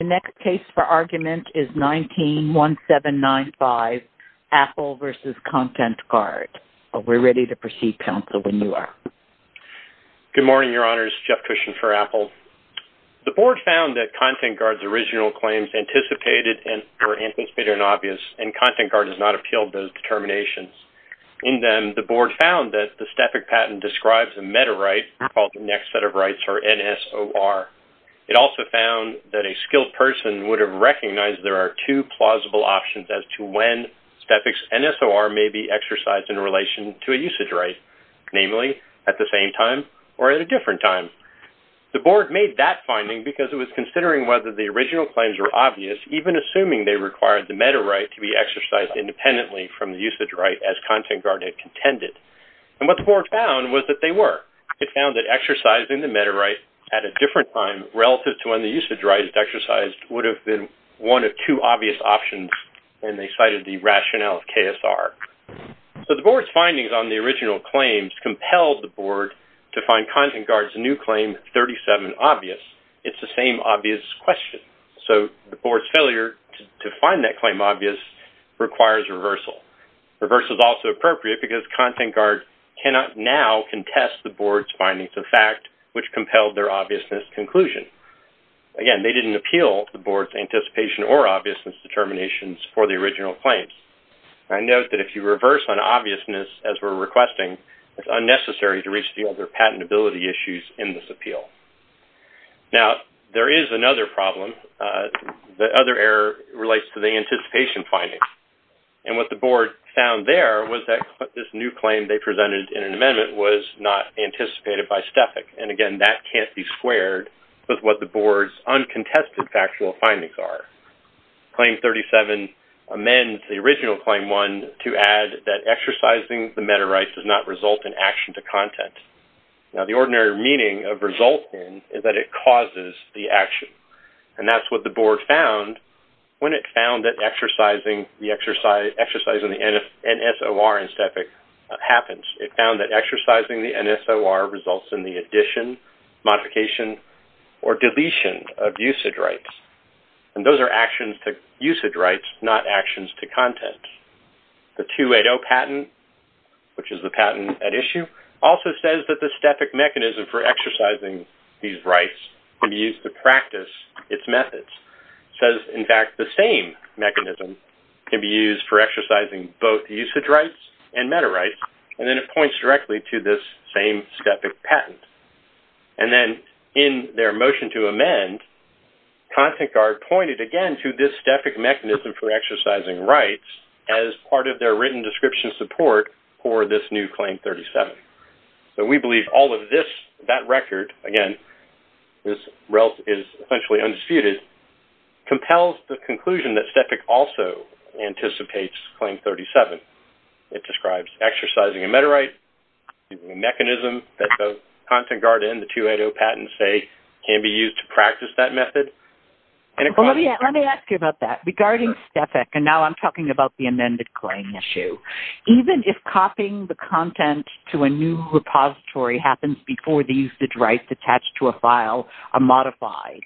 The next case for argument is 19-1795, Apple v. ContentGuard. We're ready to proceed, counsel, when you are. Good morning, Your Honors. Jeff Cushion for Apple. The Board found that ContentGuard's original claims were anticipated and obvious, and ContentGuard has not appealed those determinations. In them, the Board found that the Stefik patent describes a meta-right called the Next Set of Rights, or NSOR. It also found that a skilled person would have recognized there are two plausible options as to when Stefik's NSOR may be exercised in relation to a usage right, namely at the same time or at a different time. The Board made that finding because it was considering whether the original claims were obvious, even assuming they required the meta-right to be exercised independently from the usage right as ContentGuard had contended. And what the Board found was that they were. It found that exercising the meta-right at a different time relative to when the usage right is exercised would have been one of two obvious options, and they cited the rationale of KSR. So the Board's findings on the original claims compelled the Board to find ContentGuard's new claim 37 obvious. It's the same obvious question. So the Board's failure to find that claim obvious requires reversal. Reversal is also appropriate because ContentGuard cannot now contest the Board's findings of fact, which compelled their obviousness conclusion. Again, they didn't appeal the Board's anticipation or obviousness determinations for the original claims. I note that if you reverse on obviousness as we're requesting, it's unnecessary to re-steal their patentability issues in this appeal. Now, there is another problem. The other error relates to the anticipation findings. And what the Board found there was that this new claim they presented in an amendment was not anticipated by STFIC. And, again, that can't be squared with what the Board's uncontested factual findings are. Claim 37 amends the original Claim 1 to add that exercising the meta-right does not result in action to content. Now, the ordinary meaning of result in is that it causes the action. And that's what the Board found when it found that exercising the NSOR in STFIC happens. It found that exercising the NSOR results in the addition, modification, or deletion of usage rights. And those are actions to usage rights, not actions to content. The 280 patent, which is the patent at issue, also says that the STFIC mechanism for exercising these rights can be used to practice its methods. It says, in fact, the same mechanism can be used for exercising both usage rights and meta-rights. And then it points directly to this same STFIC patent. And then in their motion to amend, ContentGuard pointed, again, to this STFIC mechanism for exercising rights as part of their written description support for this new Claim 37. So we believe all of this, that record, again, this result is essentially undisputed, compels the conclusion that STFIC also anticipates Claim 37. It describes exercising a meta-right, a mechanism that both ContentGuard and the 280 patent say can be used to practice that method. Let me ask you about that. Regarding STFIC, and now I'm talking about the amended claim issue, even if copying the content to a new repository happens before the usage rights attached to a file are modified,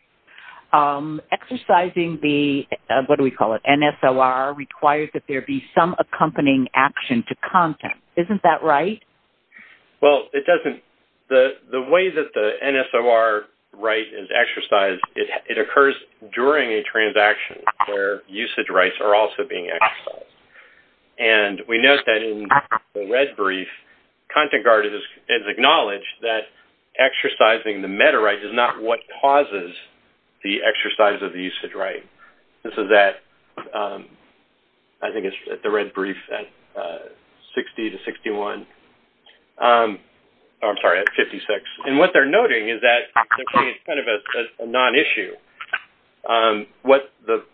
exercising the, what do we call it, NSOR, requires that there be some accompanying action to content. Isn't that right? Well, it doesn't. The way that the NSOR right is exercised, it occurs during a transaction where usage rights are also being exercised. And we note that in the red brief, ContentGuard has acknowledged that exercising the meta-right is not what causes the exercise of the usage right. This is at, I think it's at the red brief at 60 to 61. I'm sorry, at 56. And what they're noting is that it's kind of a non-issue. What the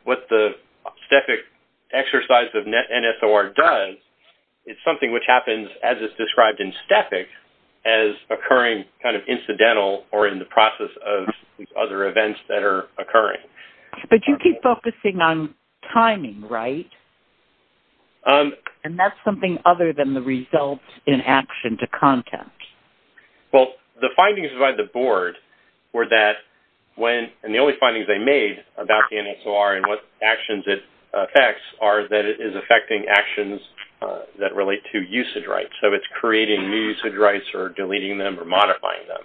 STFIC exercise of NSOR does, it's something which happens, as it's described in STFIC, as occurring kind of incidental or in the process of other events that are occurring. But you keep focusing on timing, right? And that's something other than the results in action to content. Well, the findings by the board were that when, and the only findings they made about the NSOR and what actions it affects are that it is affecting actions that relate to usage rights. So it's creating new usage rights or deleting them or modifying them.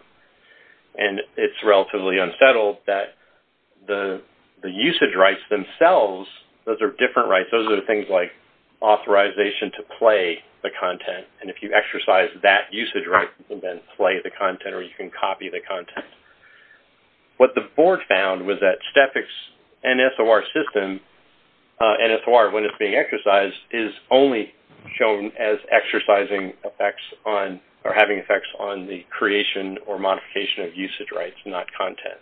And it's relatively unsettled that the usage rights themselves, those are different rights. Those are things like authorization to play the content. And if you exercise that usage right, you can then play the content or you can copy the content. What the board found was that STFIC's NSOR system, NSOR when it's being exercised, is only shown as exercising effects on or having effects on the creation or modification of usage rights, not content.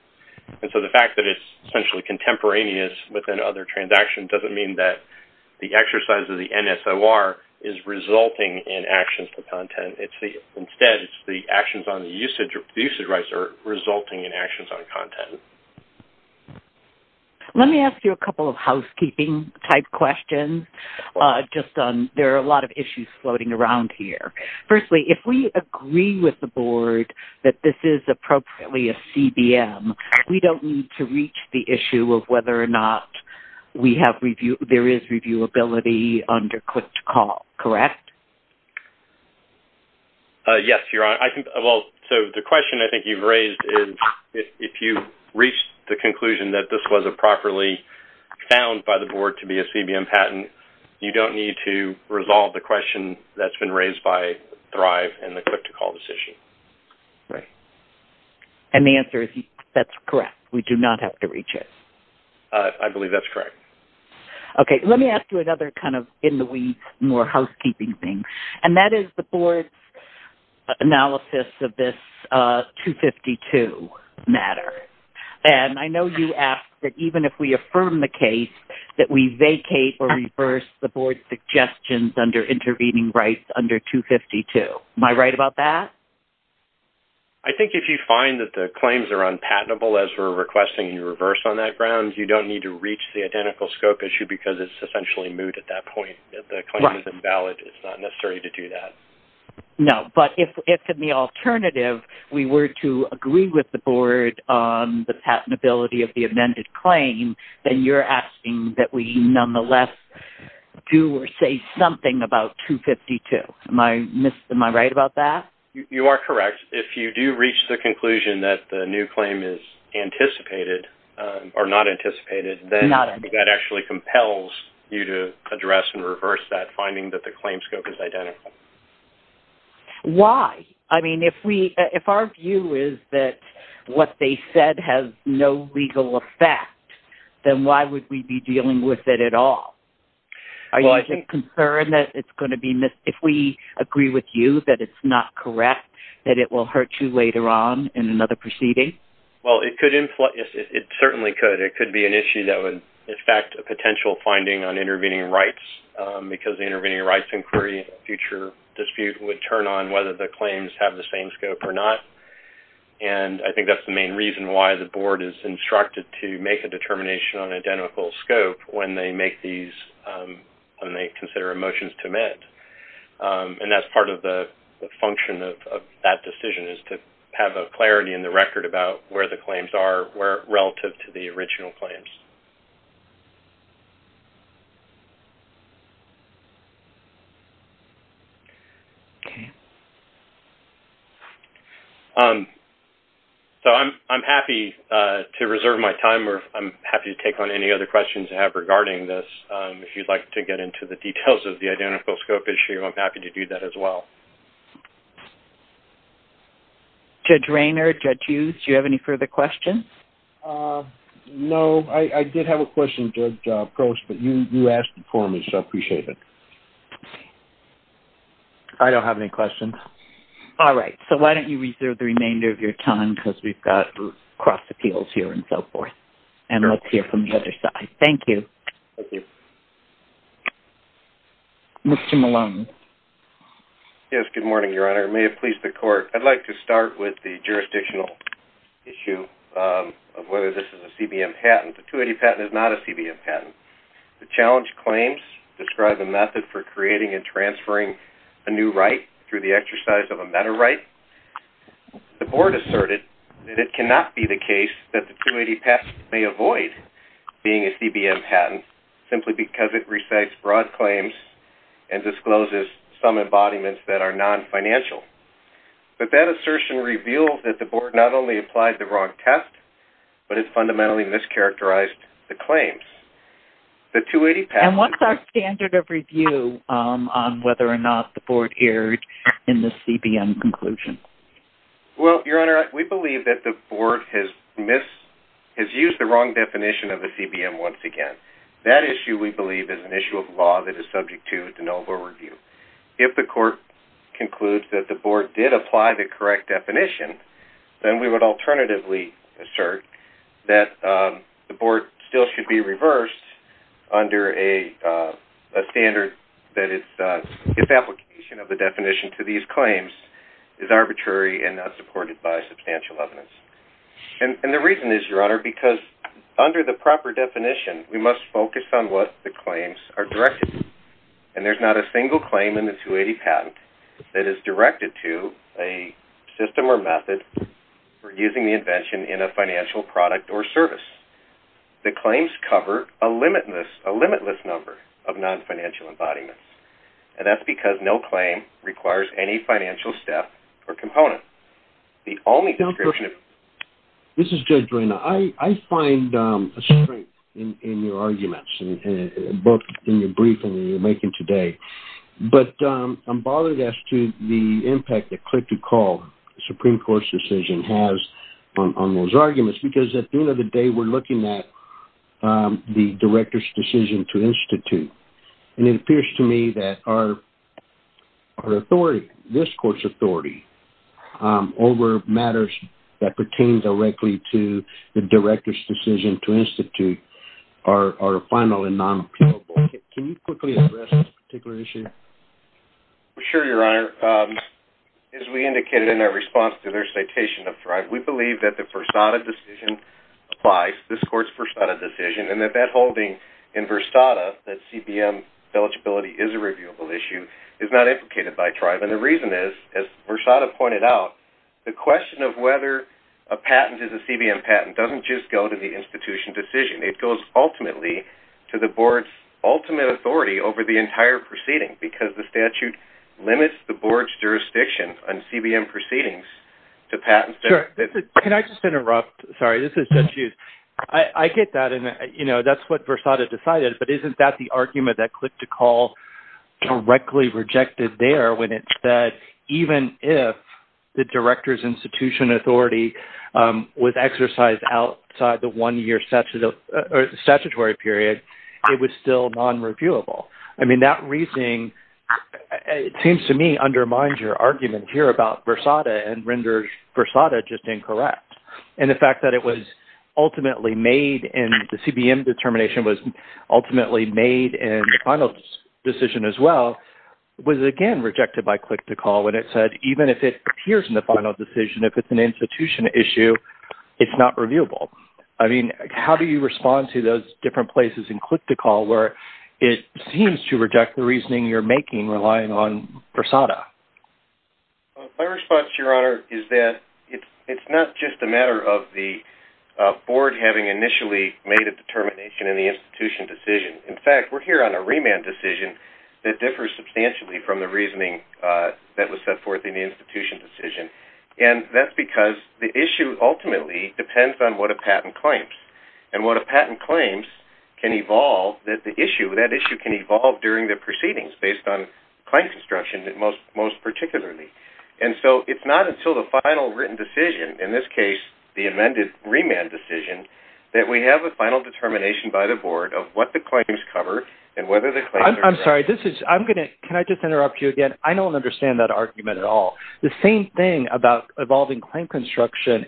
And so the fact that it's essentially contemporaneous within other transactions doesn't mean that the exercise of the NSOR is resulting in actions to content. Instead, it's the actions on the usage rights are resulting in actions on content. Let me ask you a couple of housekeeping-type questions. There are a lot of issues floating around here. Firstly, if we agree with the board that this is appropriately a CBM, we don't need to reach the issue of whether or not there is reviewability under Click-to-Call, correct? Yes, you're right. The question I think you've raised is, if you reach the conclusion that this wasn't properly found by the board to be a CBM patent, you don't need to resolve the question that's been raised by Thrive and the Click-to-Call decision. Right. And the answer is that's correct. We do not have to reach it. I believe that's correct. Okay, let me ask you another kind of in the weeds, more housekeeping thing. And that is the board's analysis of this 252 matter. And I know you asked that even if we affirm the case, that we vacate or reverse the board's suggestions under intervening rights under 252. Am I right about that? I think if you find that the claims are unpatentable as we're requesting you reverse on that ground, you don't need to reach the identical scope issue because it's essentially moot at that point. If the claim is invalid, it's not necessary to do that. No, but if in the alternative we were to agree with the board on the patentability of the amended claim, then you're asking that we nonetheless do or say something about 252. Am I right about that? You are correct. If you do reach the conclusion that the new claim is anticipated or not anticipated, then that actually compels you to address and reverse that finding that the claim scope is identical. Why? I mean, if our view is that what they said has no legal effect, then why would we be dealing with it at all? Are you concerned that it's going to be missed? If we agree with you that it's not correct, that it will hurt you later on in another proceeding? Well, it certainly could. It could be an issue that would affect a potential finding on intervening rights because the intervening rights inquiry in a future dispute would turn on whether the claims have the same scope or not. I think that's the main reason why the board is instructed to make a determination on identical scope when they consider a motion to amend. That's part of the function of that decision, is to have a clarity in the record about where the claims are relative to the original claims. I'm happy to reserve my time or I'm happy to take on any other questions you have regarding this. If you'd like to get into the details of the identical scope issue, I'm happy to do that as well. Judge Raynor, Judge Hughes, do you have any further questions? No, I did have a question, Judge Post, but you asked it for me, so I appreciate it. I don't have any questions. All right, so why don't you reserve the remainder of your time because we've got cross appeals here and so forth. And let's hear from the other side. Thank you. Thank you. Mr. Malone. Yes, good morning, Your Honor. May it please the court. I'd like to start with the jurisdictional issue of whether this is a CBM patent. The 280 patent is not a CBM patent. The challenge claims describe a method for creating and transferring a new right through the exercise of a meta right. The board asserted that it cannot be the case that the 280 patent may avoid being a CBM patent simply because it recites broad claims and discloses some embodiments that are non-financial. But that assertion reveals that the board not only applied the wrong test, but it fundamentally mischaracterized the claims. And what's our standard of review on whether or not the board erred in the CBM conclusion? Well, Your Honor, we believe that the board has used the wrong definition of a CBM once again. That issue, we believe, is an issue of law that is subject to de novo review. If the court concludes that the board did apply the correct definition, then we would alternatively assert that the board still should be reversed under a standard that its application of the definition to these claims is arbitrary and not supported by substantial evidence. And the reason is, Your Honor, because under the proper definition, we must focus on what the claims are directed to. And there's not a single claim in the 280 patent that is directed to a system or method for using the invention in a financial product or service. The claims cover a limitless number of non-financial embodiments. And that's because no claim requires any financial step or component. The only description of... This is Judge Reina. I find a strength in your arguments, both in your briefing that you're making today. But I'm bothered as to the impact that click-to-call Supreme Court's decision has on those arguments because at the end of the day, we're looking at the director's decision to institute. And it appears to me that our authority, this court's authority, over matters that pertain directly to the director's decision to institute are final and non-appealable. Can you quickly address this particular issue? Sure, Your Honor. As we indicated in our response to their citation of Thrive, we believe that the Versada decision applies to this court's Versada decision and that that holding in Versada, that CBM eligibility is a reviewable issue, is not implicated by Thrive. And the reason is, as Versada pointed out, the question of whether a patent is a CBM patent doesn't just go to the institution decision. It goes ultimately to the board's ultimate authority over the entire proceeding because the statute limits the board's jurisdiction on CBM proceedings to patents that... Can I just interrupt? Sorry, this is Judge Hughes. I get that and, you know, that's what Versada decided, but isn't that the argument that Click to Call directly rejected there when it said even if the director's institution authority was exercised outside the one-year statutory period, it was still non-reviewable? I mean, that reasoning, it seems to me, undermines your argument here about Versada and renders Versada just incorrect. And the fact that it was ultimately made, and the CBM determination was ultimately made in the final decision as well, was again rejected by Click to Call when it said even if it appears in the final decision, if it's an institution issue, it's not reviewable. I mean, how do you respond to those different places in Click to Call where it seems to reject the reasoning you're making relying on Versada? My response, Your Honor, is that it's not just a matter of the board having initially made a determination in the institution decision. In fact, we're here on a remand decision that differs substantially from the reasoning that was set forth in the institution decision. And that's because the issue ultimately depends on what a patent claims. And what a patent claims can evolve, that the issue, that issue can evolve during the proceedings based on claim construction most particularly. And so it's not until the final written decision, in this case, the amended remand decision, that we have a final determination by the board of what the claims cover and whether the claims are correct. I'm sorry. Can I just interrupt you again? I don't understand that argument at all. The same thing about evolving claim construction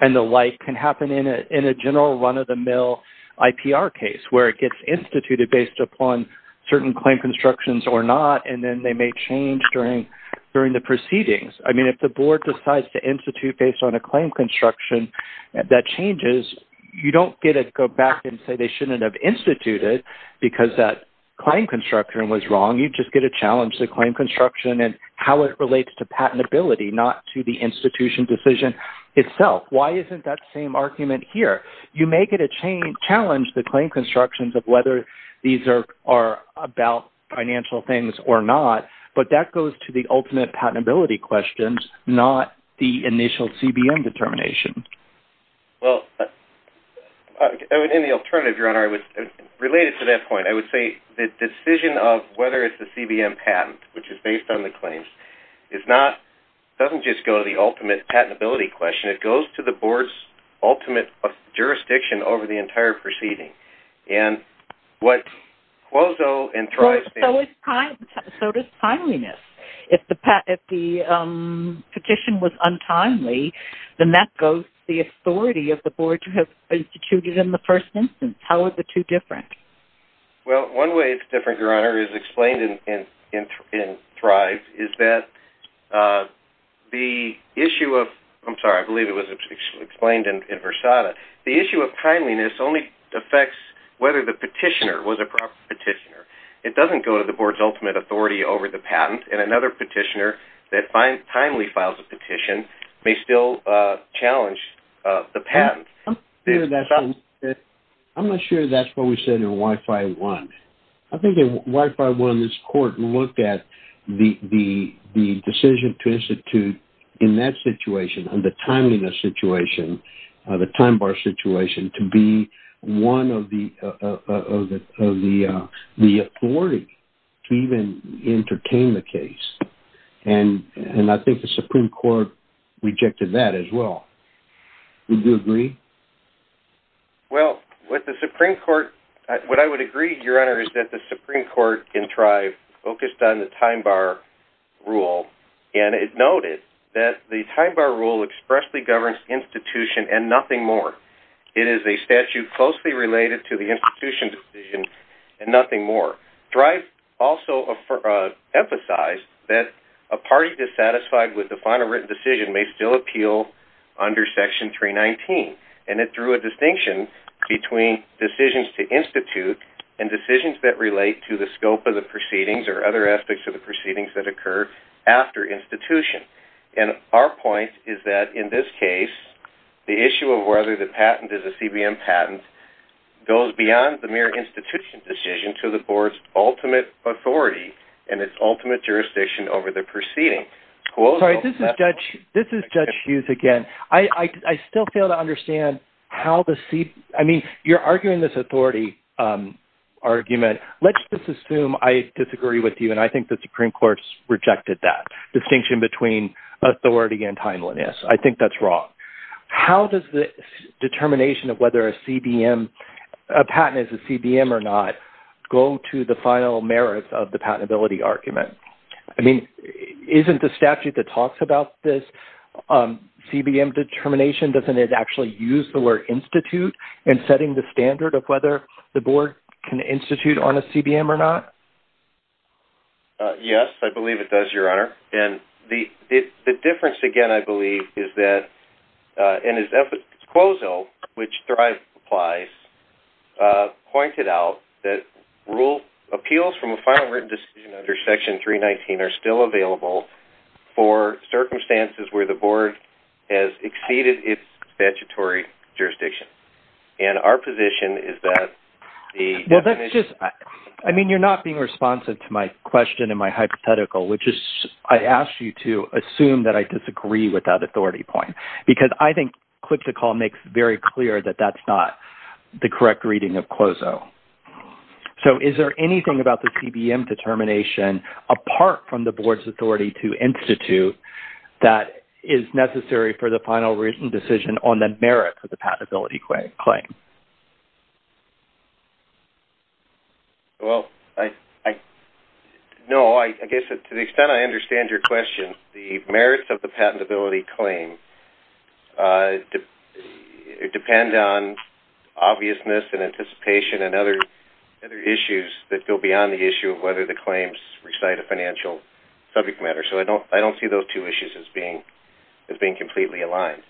and the like can happen in a general run-of-the-mill IPR case where it gets instituted based upon certain claim constructions or not, and then they may change during the proceedings. I mean, if the board decides to institute based on a claim construction that changes, you don't get to go back and say they shouldn't have instituted because that claim construction was wrong. You just get to challenge the claim construction and how it relates to patentability, not to the institution decision itself. Why isn't that same argument here? You may get to challenge the claim constructions in terms of whether these are about financial things or not, but that goes to the ultimate patentability questions, not the initial CBM determination. Well, in the alternative, Your Honor, related to that point, I would say the decision of whether it's a CBM patent, which is based on the claims, doesn't just go to the ultimate patentability question. It goes to the board's ultimate jurisdiction over the entire proceeding. And what Cuozzo and Thrive say... So does timeliness. If the petition was untimely, then that goes to the authority of the board to have instituted in the first instance. How are the two different? Well, one way it's different, Your Honor, is explained in Thrive, is that the issue of... I'm sorry, I believe it was explained in Versada. The issue of timeliness only affects whether the petitioner was a proper petitioner. It doesn't go to the board's ultimate authority over the patent, and another petitioner that timely files a petition may still challenge the patent. I'm not sure that's what we said in Y-5-1. I think in Y-5-1, this court looked at the decision to institute in that situation, the timeliness situation, the time bar situation, to be one of the authority to even entertain the case. And I think the Supreme Court rejected that as well. Would you agree? Well, with the Supreme Court, what I would agree, Your Honor, is that the Supreme Court in Thrive focused on the time bar rule, and it noted that the time bar rule expressly governs institution and nothing more. It is a statute closely related to the institution decision and nothing more. Thrive also emphasized that a party dissatisfied with the final written decision may still appeal under Section 319, and it drew a distinction between decisions to institute and decisions that relate to the scope of the proceedings or other aspects of the proceedings that occur after institution. And our point is that in this case, the issue of whether the patent is a CBM patent goes beyond the mere institution decision to the board's ultimate authority and its ultimate jurisdiction over the proceeding. Sorry, this is Judge Hughes again. I still fail to understand how the C- I mean, you're arguing this authority argument. Let's just assume I disagree with you, and I think the Supreme Court rejected that distinction between authority and timeliness. I think that's wrong. How does the determination of whether a CBM, a patent is a CBM or not, go to the final merits of the patentability argument? I mean, isn't the statute that talks about this CBM determination? Doesn't it actually use the word institute and setting the standard of whether the board can institute on a CBM or not? Yes, I believe it does, Your Honor. And the difference, again, I believe, is that in his disclosal, which Thrive applies, pointed out that rule appeals from a final written decision under Section 319 are still available for circumstances where the board has exceeded its statutory jurisdiction. And our position is that the definition- Well, that's just-I mean, you're not being responsive to my question and my hypothetical, which is I asked you to assume that I disagree with that authority point, because I think Click to Call makes very clear that that's not the correct reading of CLOZO. So is there anything about the CBM determination, apart from the board's authority to institute, that is necessary for the final written decision on the merits of the patentability claim? Well, no. I guess to the extent I understand your question, the merits of the patentability claim depend on obviousness and anticipation and other issues that go beyond the issue of whether the claims recite a financial subject matter. So I don't see those two issues as being completely aligned.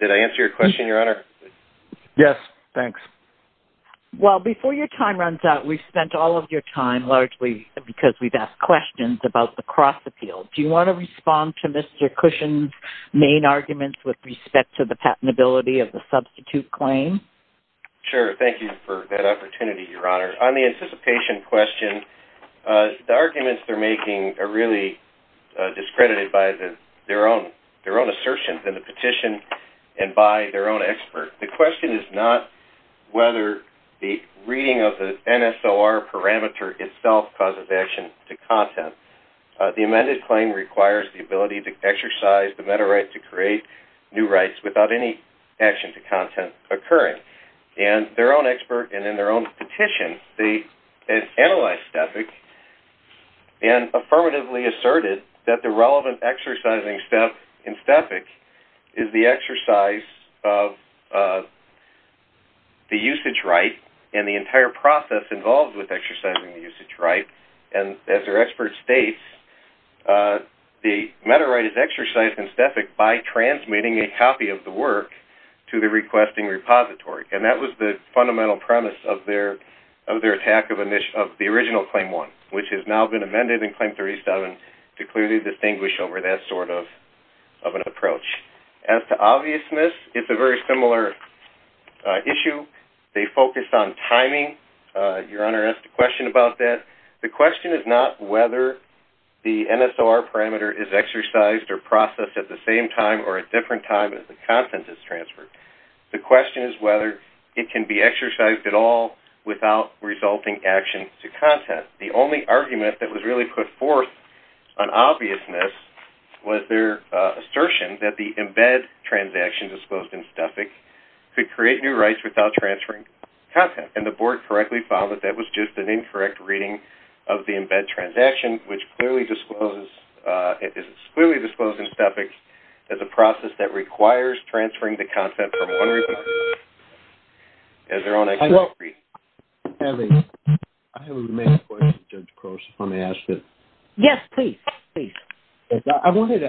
Did I answer your question, Your Honor? Yes, thanks. Well, before your time runs out, we've spent all of your time, largely because we've asked questions about the cross-appeal. Do you want to respond to Mr. Cushon's main arguments with respect to the patentability of the substitute claim? Sure. Thank you for that opportunity, Your Honor. On the anticipation question, the arguments they're making are really discredited by their own assertions in the petition and by their own expert. The question is not whether the reading of the NSOR parameter itself causes action to content. The amended claim requires the ability to exercise the meta right to create new rights without any action to content occurring. And their own expert and in their own petition, they analyzed STEFIC and affirmatively asserted that the relevant exercising step in STEFIC is the exercise of the usage right and the entire process involved with exercising the usage right. And as their expert states, the meta right is exercised in STEFIC by transmitting a copy of the work to the requesting repository. And that was the fundamental premise of their attack of the original Claim 1, which has now been amended in Claim 37 to clearly distinguish over that sort of an approach. As to obviousness, it's a very similar issue. They focused on timing. Your Honor asked a question about that. The question is not whether the NSOR parameter is exercised or processed at the same time or a different time as the content is transferred. The question is whether it can be exercised at all without resulting action to content. The only argument that was really put forth on obviousness was their assertion that the embed transaction disclosed in STEFIC could create new rights without transferring content. And the Board correctly found that that was just an incorrect reading of the embed transaction, which is clearly disclosed in STEFIC as a process that requires transferring the content from one repository as their own exercise. I have a remaining question, Judge Croce, if I may ask it. Yes, please. I wanted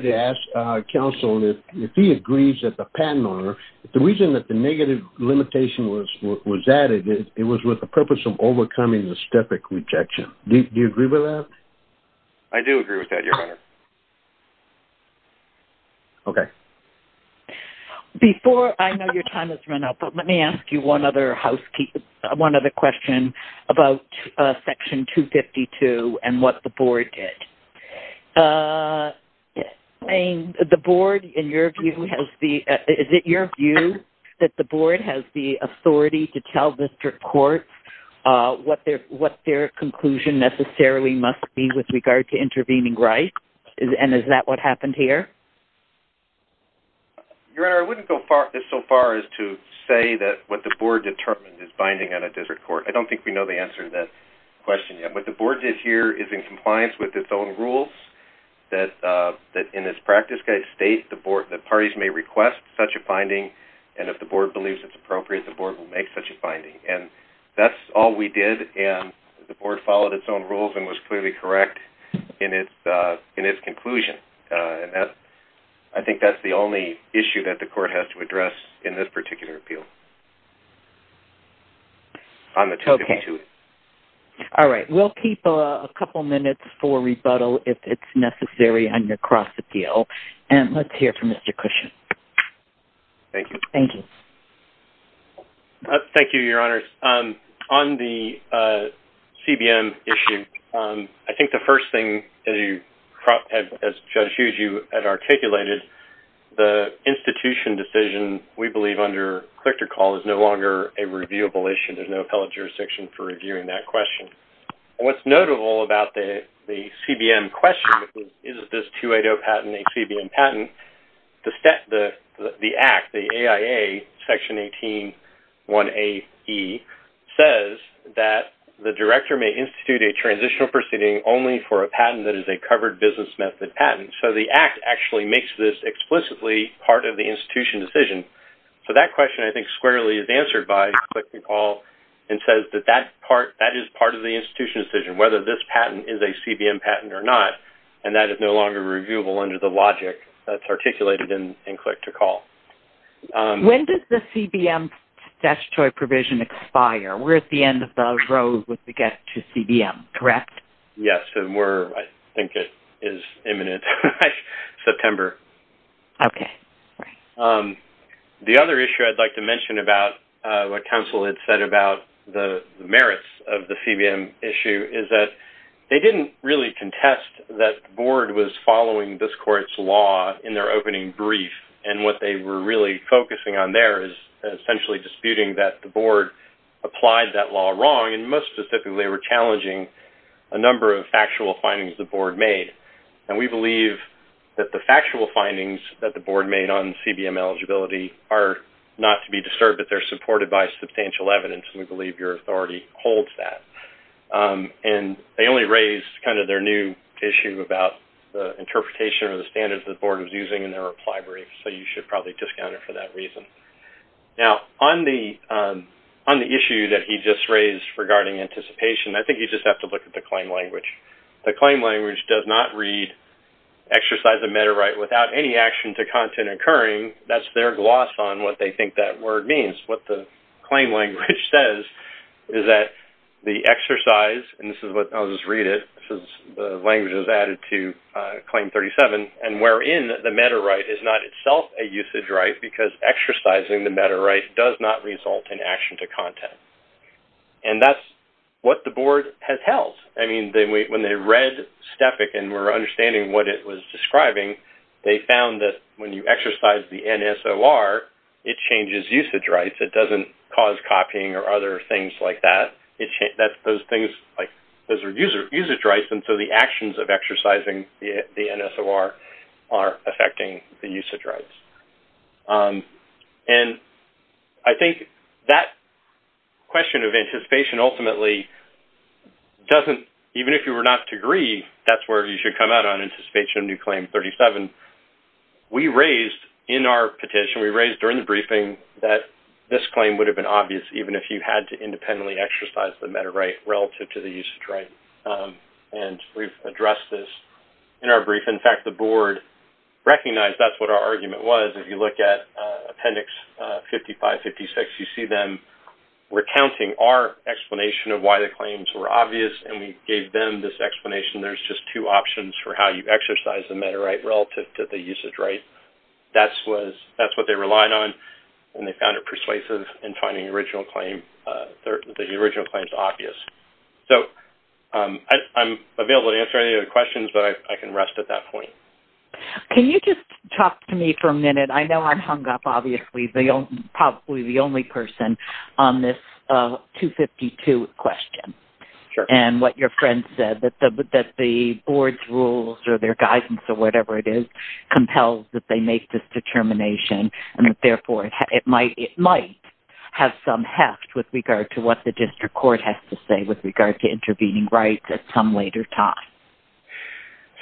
to ask counsel if he agrees that the patent owner, the reason that the negative limitation was added, it was with the purpose of overcoming the STEFIC rejection. Do you agree with that? I do agree with that, Your Honor. Okay. Before, I know your time has run out, but let me ask you one other question about Section 252 and what the Board did. Is it your view that the Board has the authority to tell district courts what their conclusion necessarily must be with regard to intervening rights? And is that what happened here? Your Honor, I wouldn't go so far as to say that what the Board determined is binding on a district court. I don't think we know the answer to that question yet. What the Board did here is in compliance with its own rules that in its practice guide state that parties may request such a finding, and if the Board believes it's appropriate, the Board will make such a finding. And that's all we did, and the Board followed its own rules and was clearly correct in its conclusion. I think that's the only issue that the Court has to address in this particular appeal on the 252. All right. We'll keep a couple minutes for rebuttal if it's necessary on your cross-appeal. And let's hear from Mr. Cushing. Thank you. Thank you. Thank you, Your Honors. On the CBM issue, I think the first thing, as Judge Hughes, you had articulated, the institution decision, we believe, under click-to-call is no longer a reviewable issue. There's no appellate jurisdiction for reviewing that question. What's notable about the CBM question is, is this 280 patent a CBM patent? The Act, the AIA Section 181AE, says that the director may institute a transitional proceeding only for a patent that is a covered business method patent. So the Act actually makes this explicitly part of the institution decision. So that question, I think, squarely is answered by click-to-call and says that that is part of the institution decision, whether this patent is a CBM patent or not. And that is no longer reviewable under the logic that's articulated in click-to-call. When does the CBM statutory provision expire? We're at the end of the road with the get to CBM, correct? Yes, and we're, I think it is imminent by September. Okay. The other issue I'd like to mention about what counsel had said about the merits of the CBM issue is that they didn't really contest that the board was following this court's law in their opening brief. And what they were really focusing on there is essentially disputing that the board applied that law wrong, and most specifically were challenging a number of factual findings the board made. And we believe that the factual findings that the board made on CBM eligibility are not to be disturbed, but they're supported by substantial evidence, and we believe your authority holds that. And they only raised kind of their new issue about the interpretation or the standards the board was using in their reply brief. Now, on the issue that he just raised regarding anticipation, I think you just have to look at the claim language. The claim language does not read, exercise a meta right without any action to content occurring. That's their gloss on what they think that word means. What the claim language says is that the exercise, and this is what, I'll just read it, this is the language that was added to Claim 37, and wherein the meta right is not itself a usage right because exercising the meta right does not result in action to content. And that's what the board has held. I mean, when they read STEFIC and were understanding what it was describing, they found that when you exercise the NSOR, it changes usage rights. It doesn't cause copying or other things like that. Those things, like, those are usage rights, and so the actions of exercising the NSOR are affecting the usage rights. And I think that question of anticipation ultimately doesn't, even if you were not to agree, that's where you should come out on anticipation of new Claim 37. We raised in our petition, we raised during the briefing that this claim would have been obvious even if you had to independently exercise the meta right relative to the usage right. And we've addressed this in our briefing. In fact, the board recognized that's what our argument was. If you look at Appendix 55-56, you see them recounting our explanation of why the claims were obvious, and we gave them this explanation. There's just two options for how you exercise the meta right relative to the usage right. That's what they relied on, and they found it persuasive in finding the original claims obvious. So I'm available to answer any other questions, but I can rest at that point. Can you just talk to me for a minute? I know I'm hung up, obviously, probably the only person on this 252 question. Sure. And what your friend said, that the board's rules or their guidance or whatever it is, compels that they make this determination, and that therefore it might have some heft with regard to what the district court has to say with regard to intervening rights at some later time.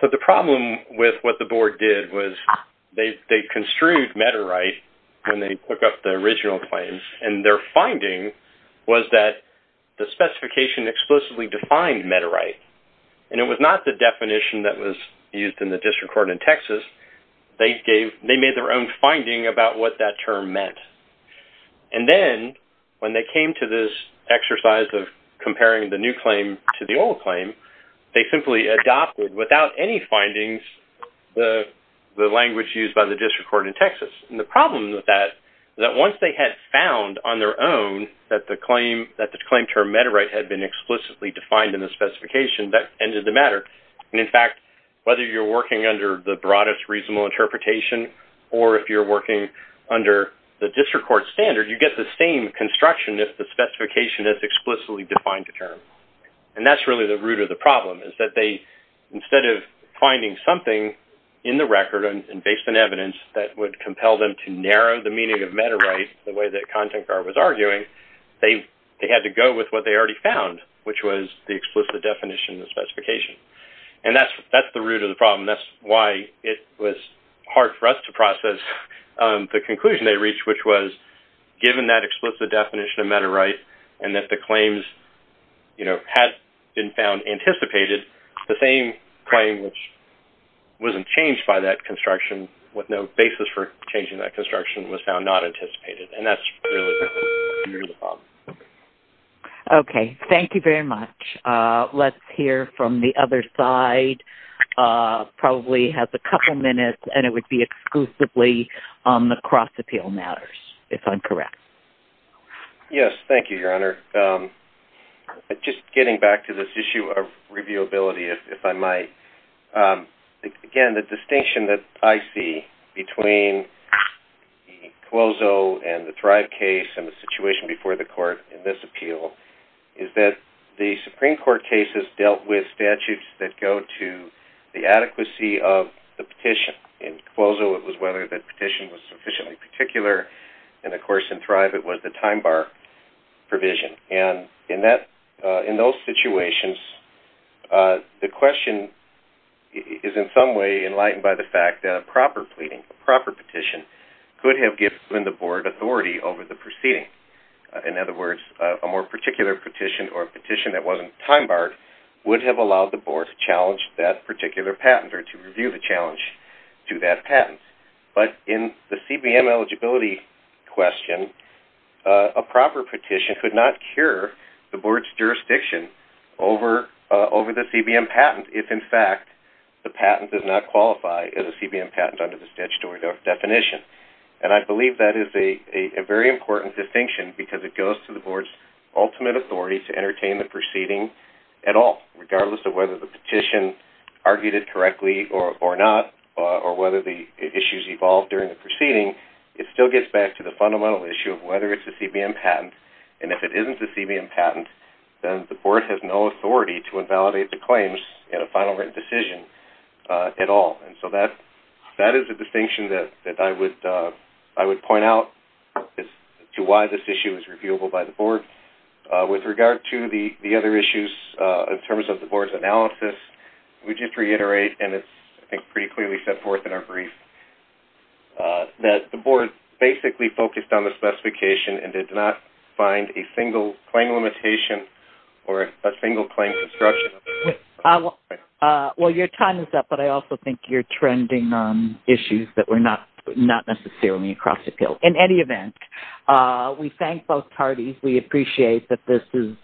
So the problem with what the board did was they construed meta right when they took up the original claims, and their finding was that the specification explicitly defined meta right, and it was not the definition that was used in the district court in Texas. They made their own finding about what that term meant. And then when they came to this exercise of comparing the new claim to the old claim, they simply adopted, without any findings, the language used by the district court in Texas. And the problem with that is that once they had found on their own that the claim term meta right had been explicitly defined in the specification, that ended the matter. And, in fact, whether you're working under the broadest reasonable interpretation or if you're working under the district court standard, you get the same construction if the specification is explicitly defined a term. And that's really the root of the problem is that they, instead of finding something in the record and based on evidence that would compel them to narrow the meaning of meta right the way that Kontenkar was arguing, they had to go with what they already found, which was the explicit definition of the specification. And that's the root of the problem. That's why it was hard for us to process the conclusion they reached, which was given that explicit definition of meta right and that the claims, you know, had been found anticipated, the same claim which wasn't changed by that construction with no basis for changing that construction was found not anticipated. And that's really the root of the problem. Okay. Thank you very much. Let's hear from the other side, probably has a couple minutes, and it would be exclusively on the cross-appeal matters, if I'm correct. Yes. Thank you, Your Honor. Just getting back to this issue of reviewability, if I might. Again, the distinction that I see between the Clozo and the Thrive case and the situation before the court in this appeal is that the Supreme Court cases dealt with statutes that go to the adequacy of the petition. In Clozo, it was whether the petition was sufficiently particular. And, of course, in Thrive, it was the time bar provision. And in those situations, the question is in some way enlightened by the fact that a proper pleading, a proper petition, could have given the board authority over the proceeding. In other words, a more particular petition or a petition that wasn't time barred would have allowed the board to challenge that particular patent or to review the challenge to that patent. But in the CBM eligibility question, a proper petition could not cure the board's jurisdiction over the CBM patent if, in fact, the patent does not qualify as a CBM patent under the statutory definition. And I believe that is a very important distinction because it goes to the board's ultimate authority to entertain the proceeding at all, regardless of whether the petition argued it correctly or not or whether the issues evolved during the proceeding. It still gets back to the fundamental issue of whether it's a CBM patent. And if it isn't a CBM patent, then the board has no authority to invalidate the claims in a final written decision at all. And so that is a distinction that I would point out to why this issue is reviewable by the board. With regard to the other issues in terms of the board's analysis, we just reiterate, and it's pretty clearly set forth in our brief, that the board basically focused on the specification and did not find a single claim limitation or a single claim construction. Well, your time is up, but I also think you're trending on issues that were not necessarily across the field. In any event, we thank both parties. We appreciate that this is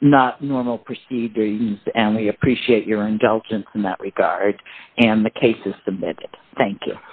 not normal proceedings, and we appreciate your indulgence in that regard, and the case is submitted. Thank you.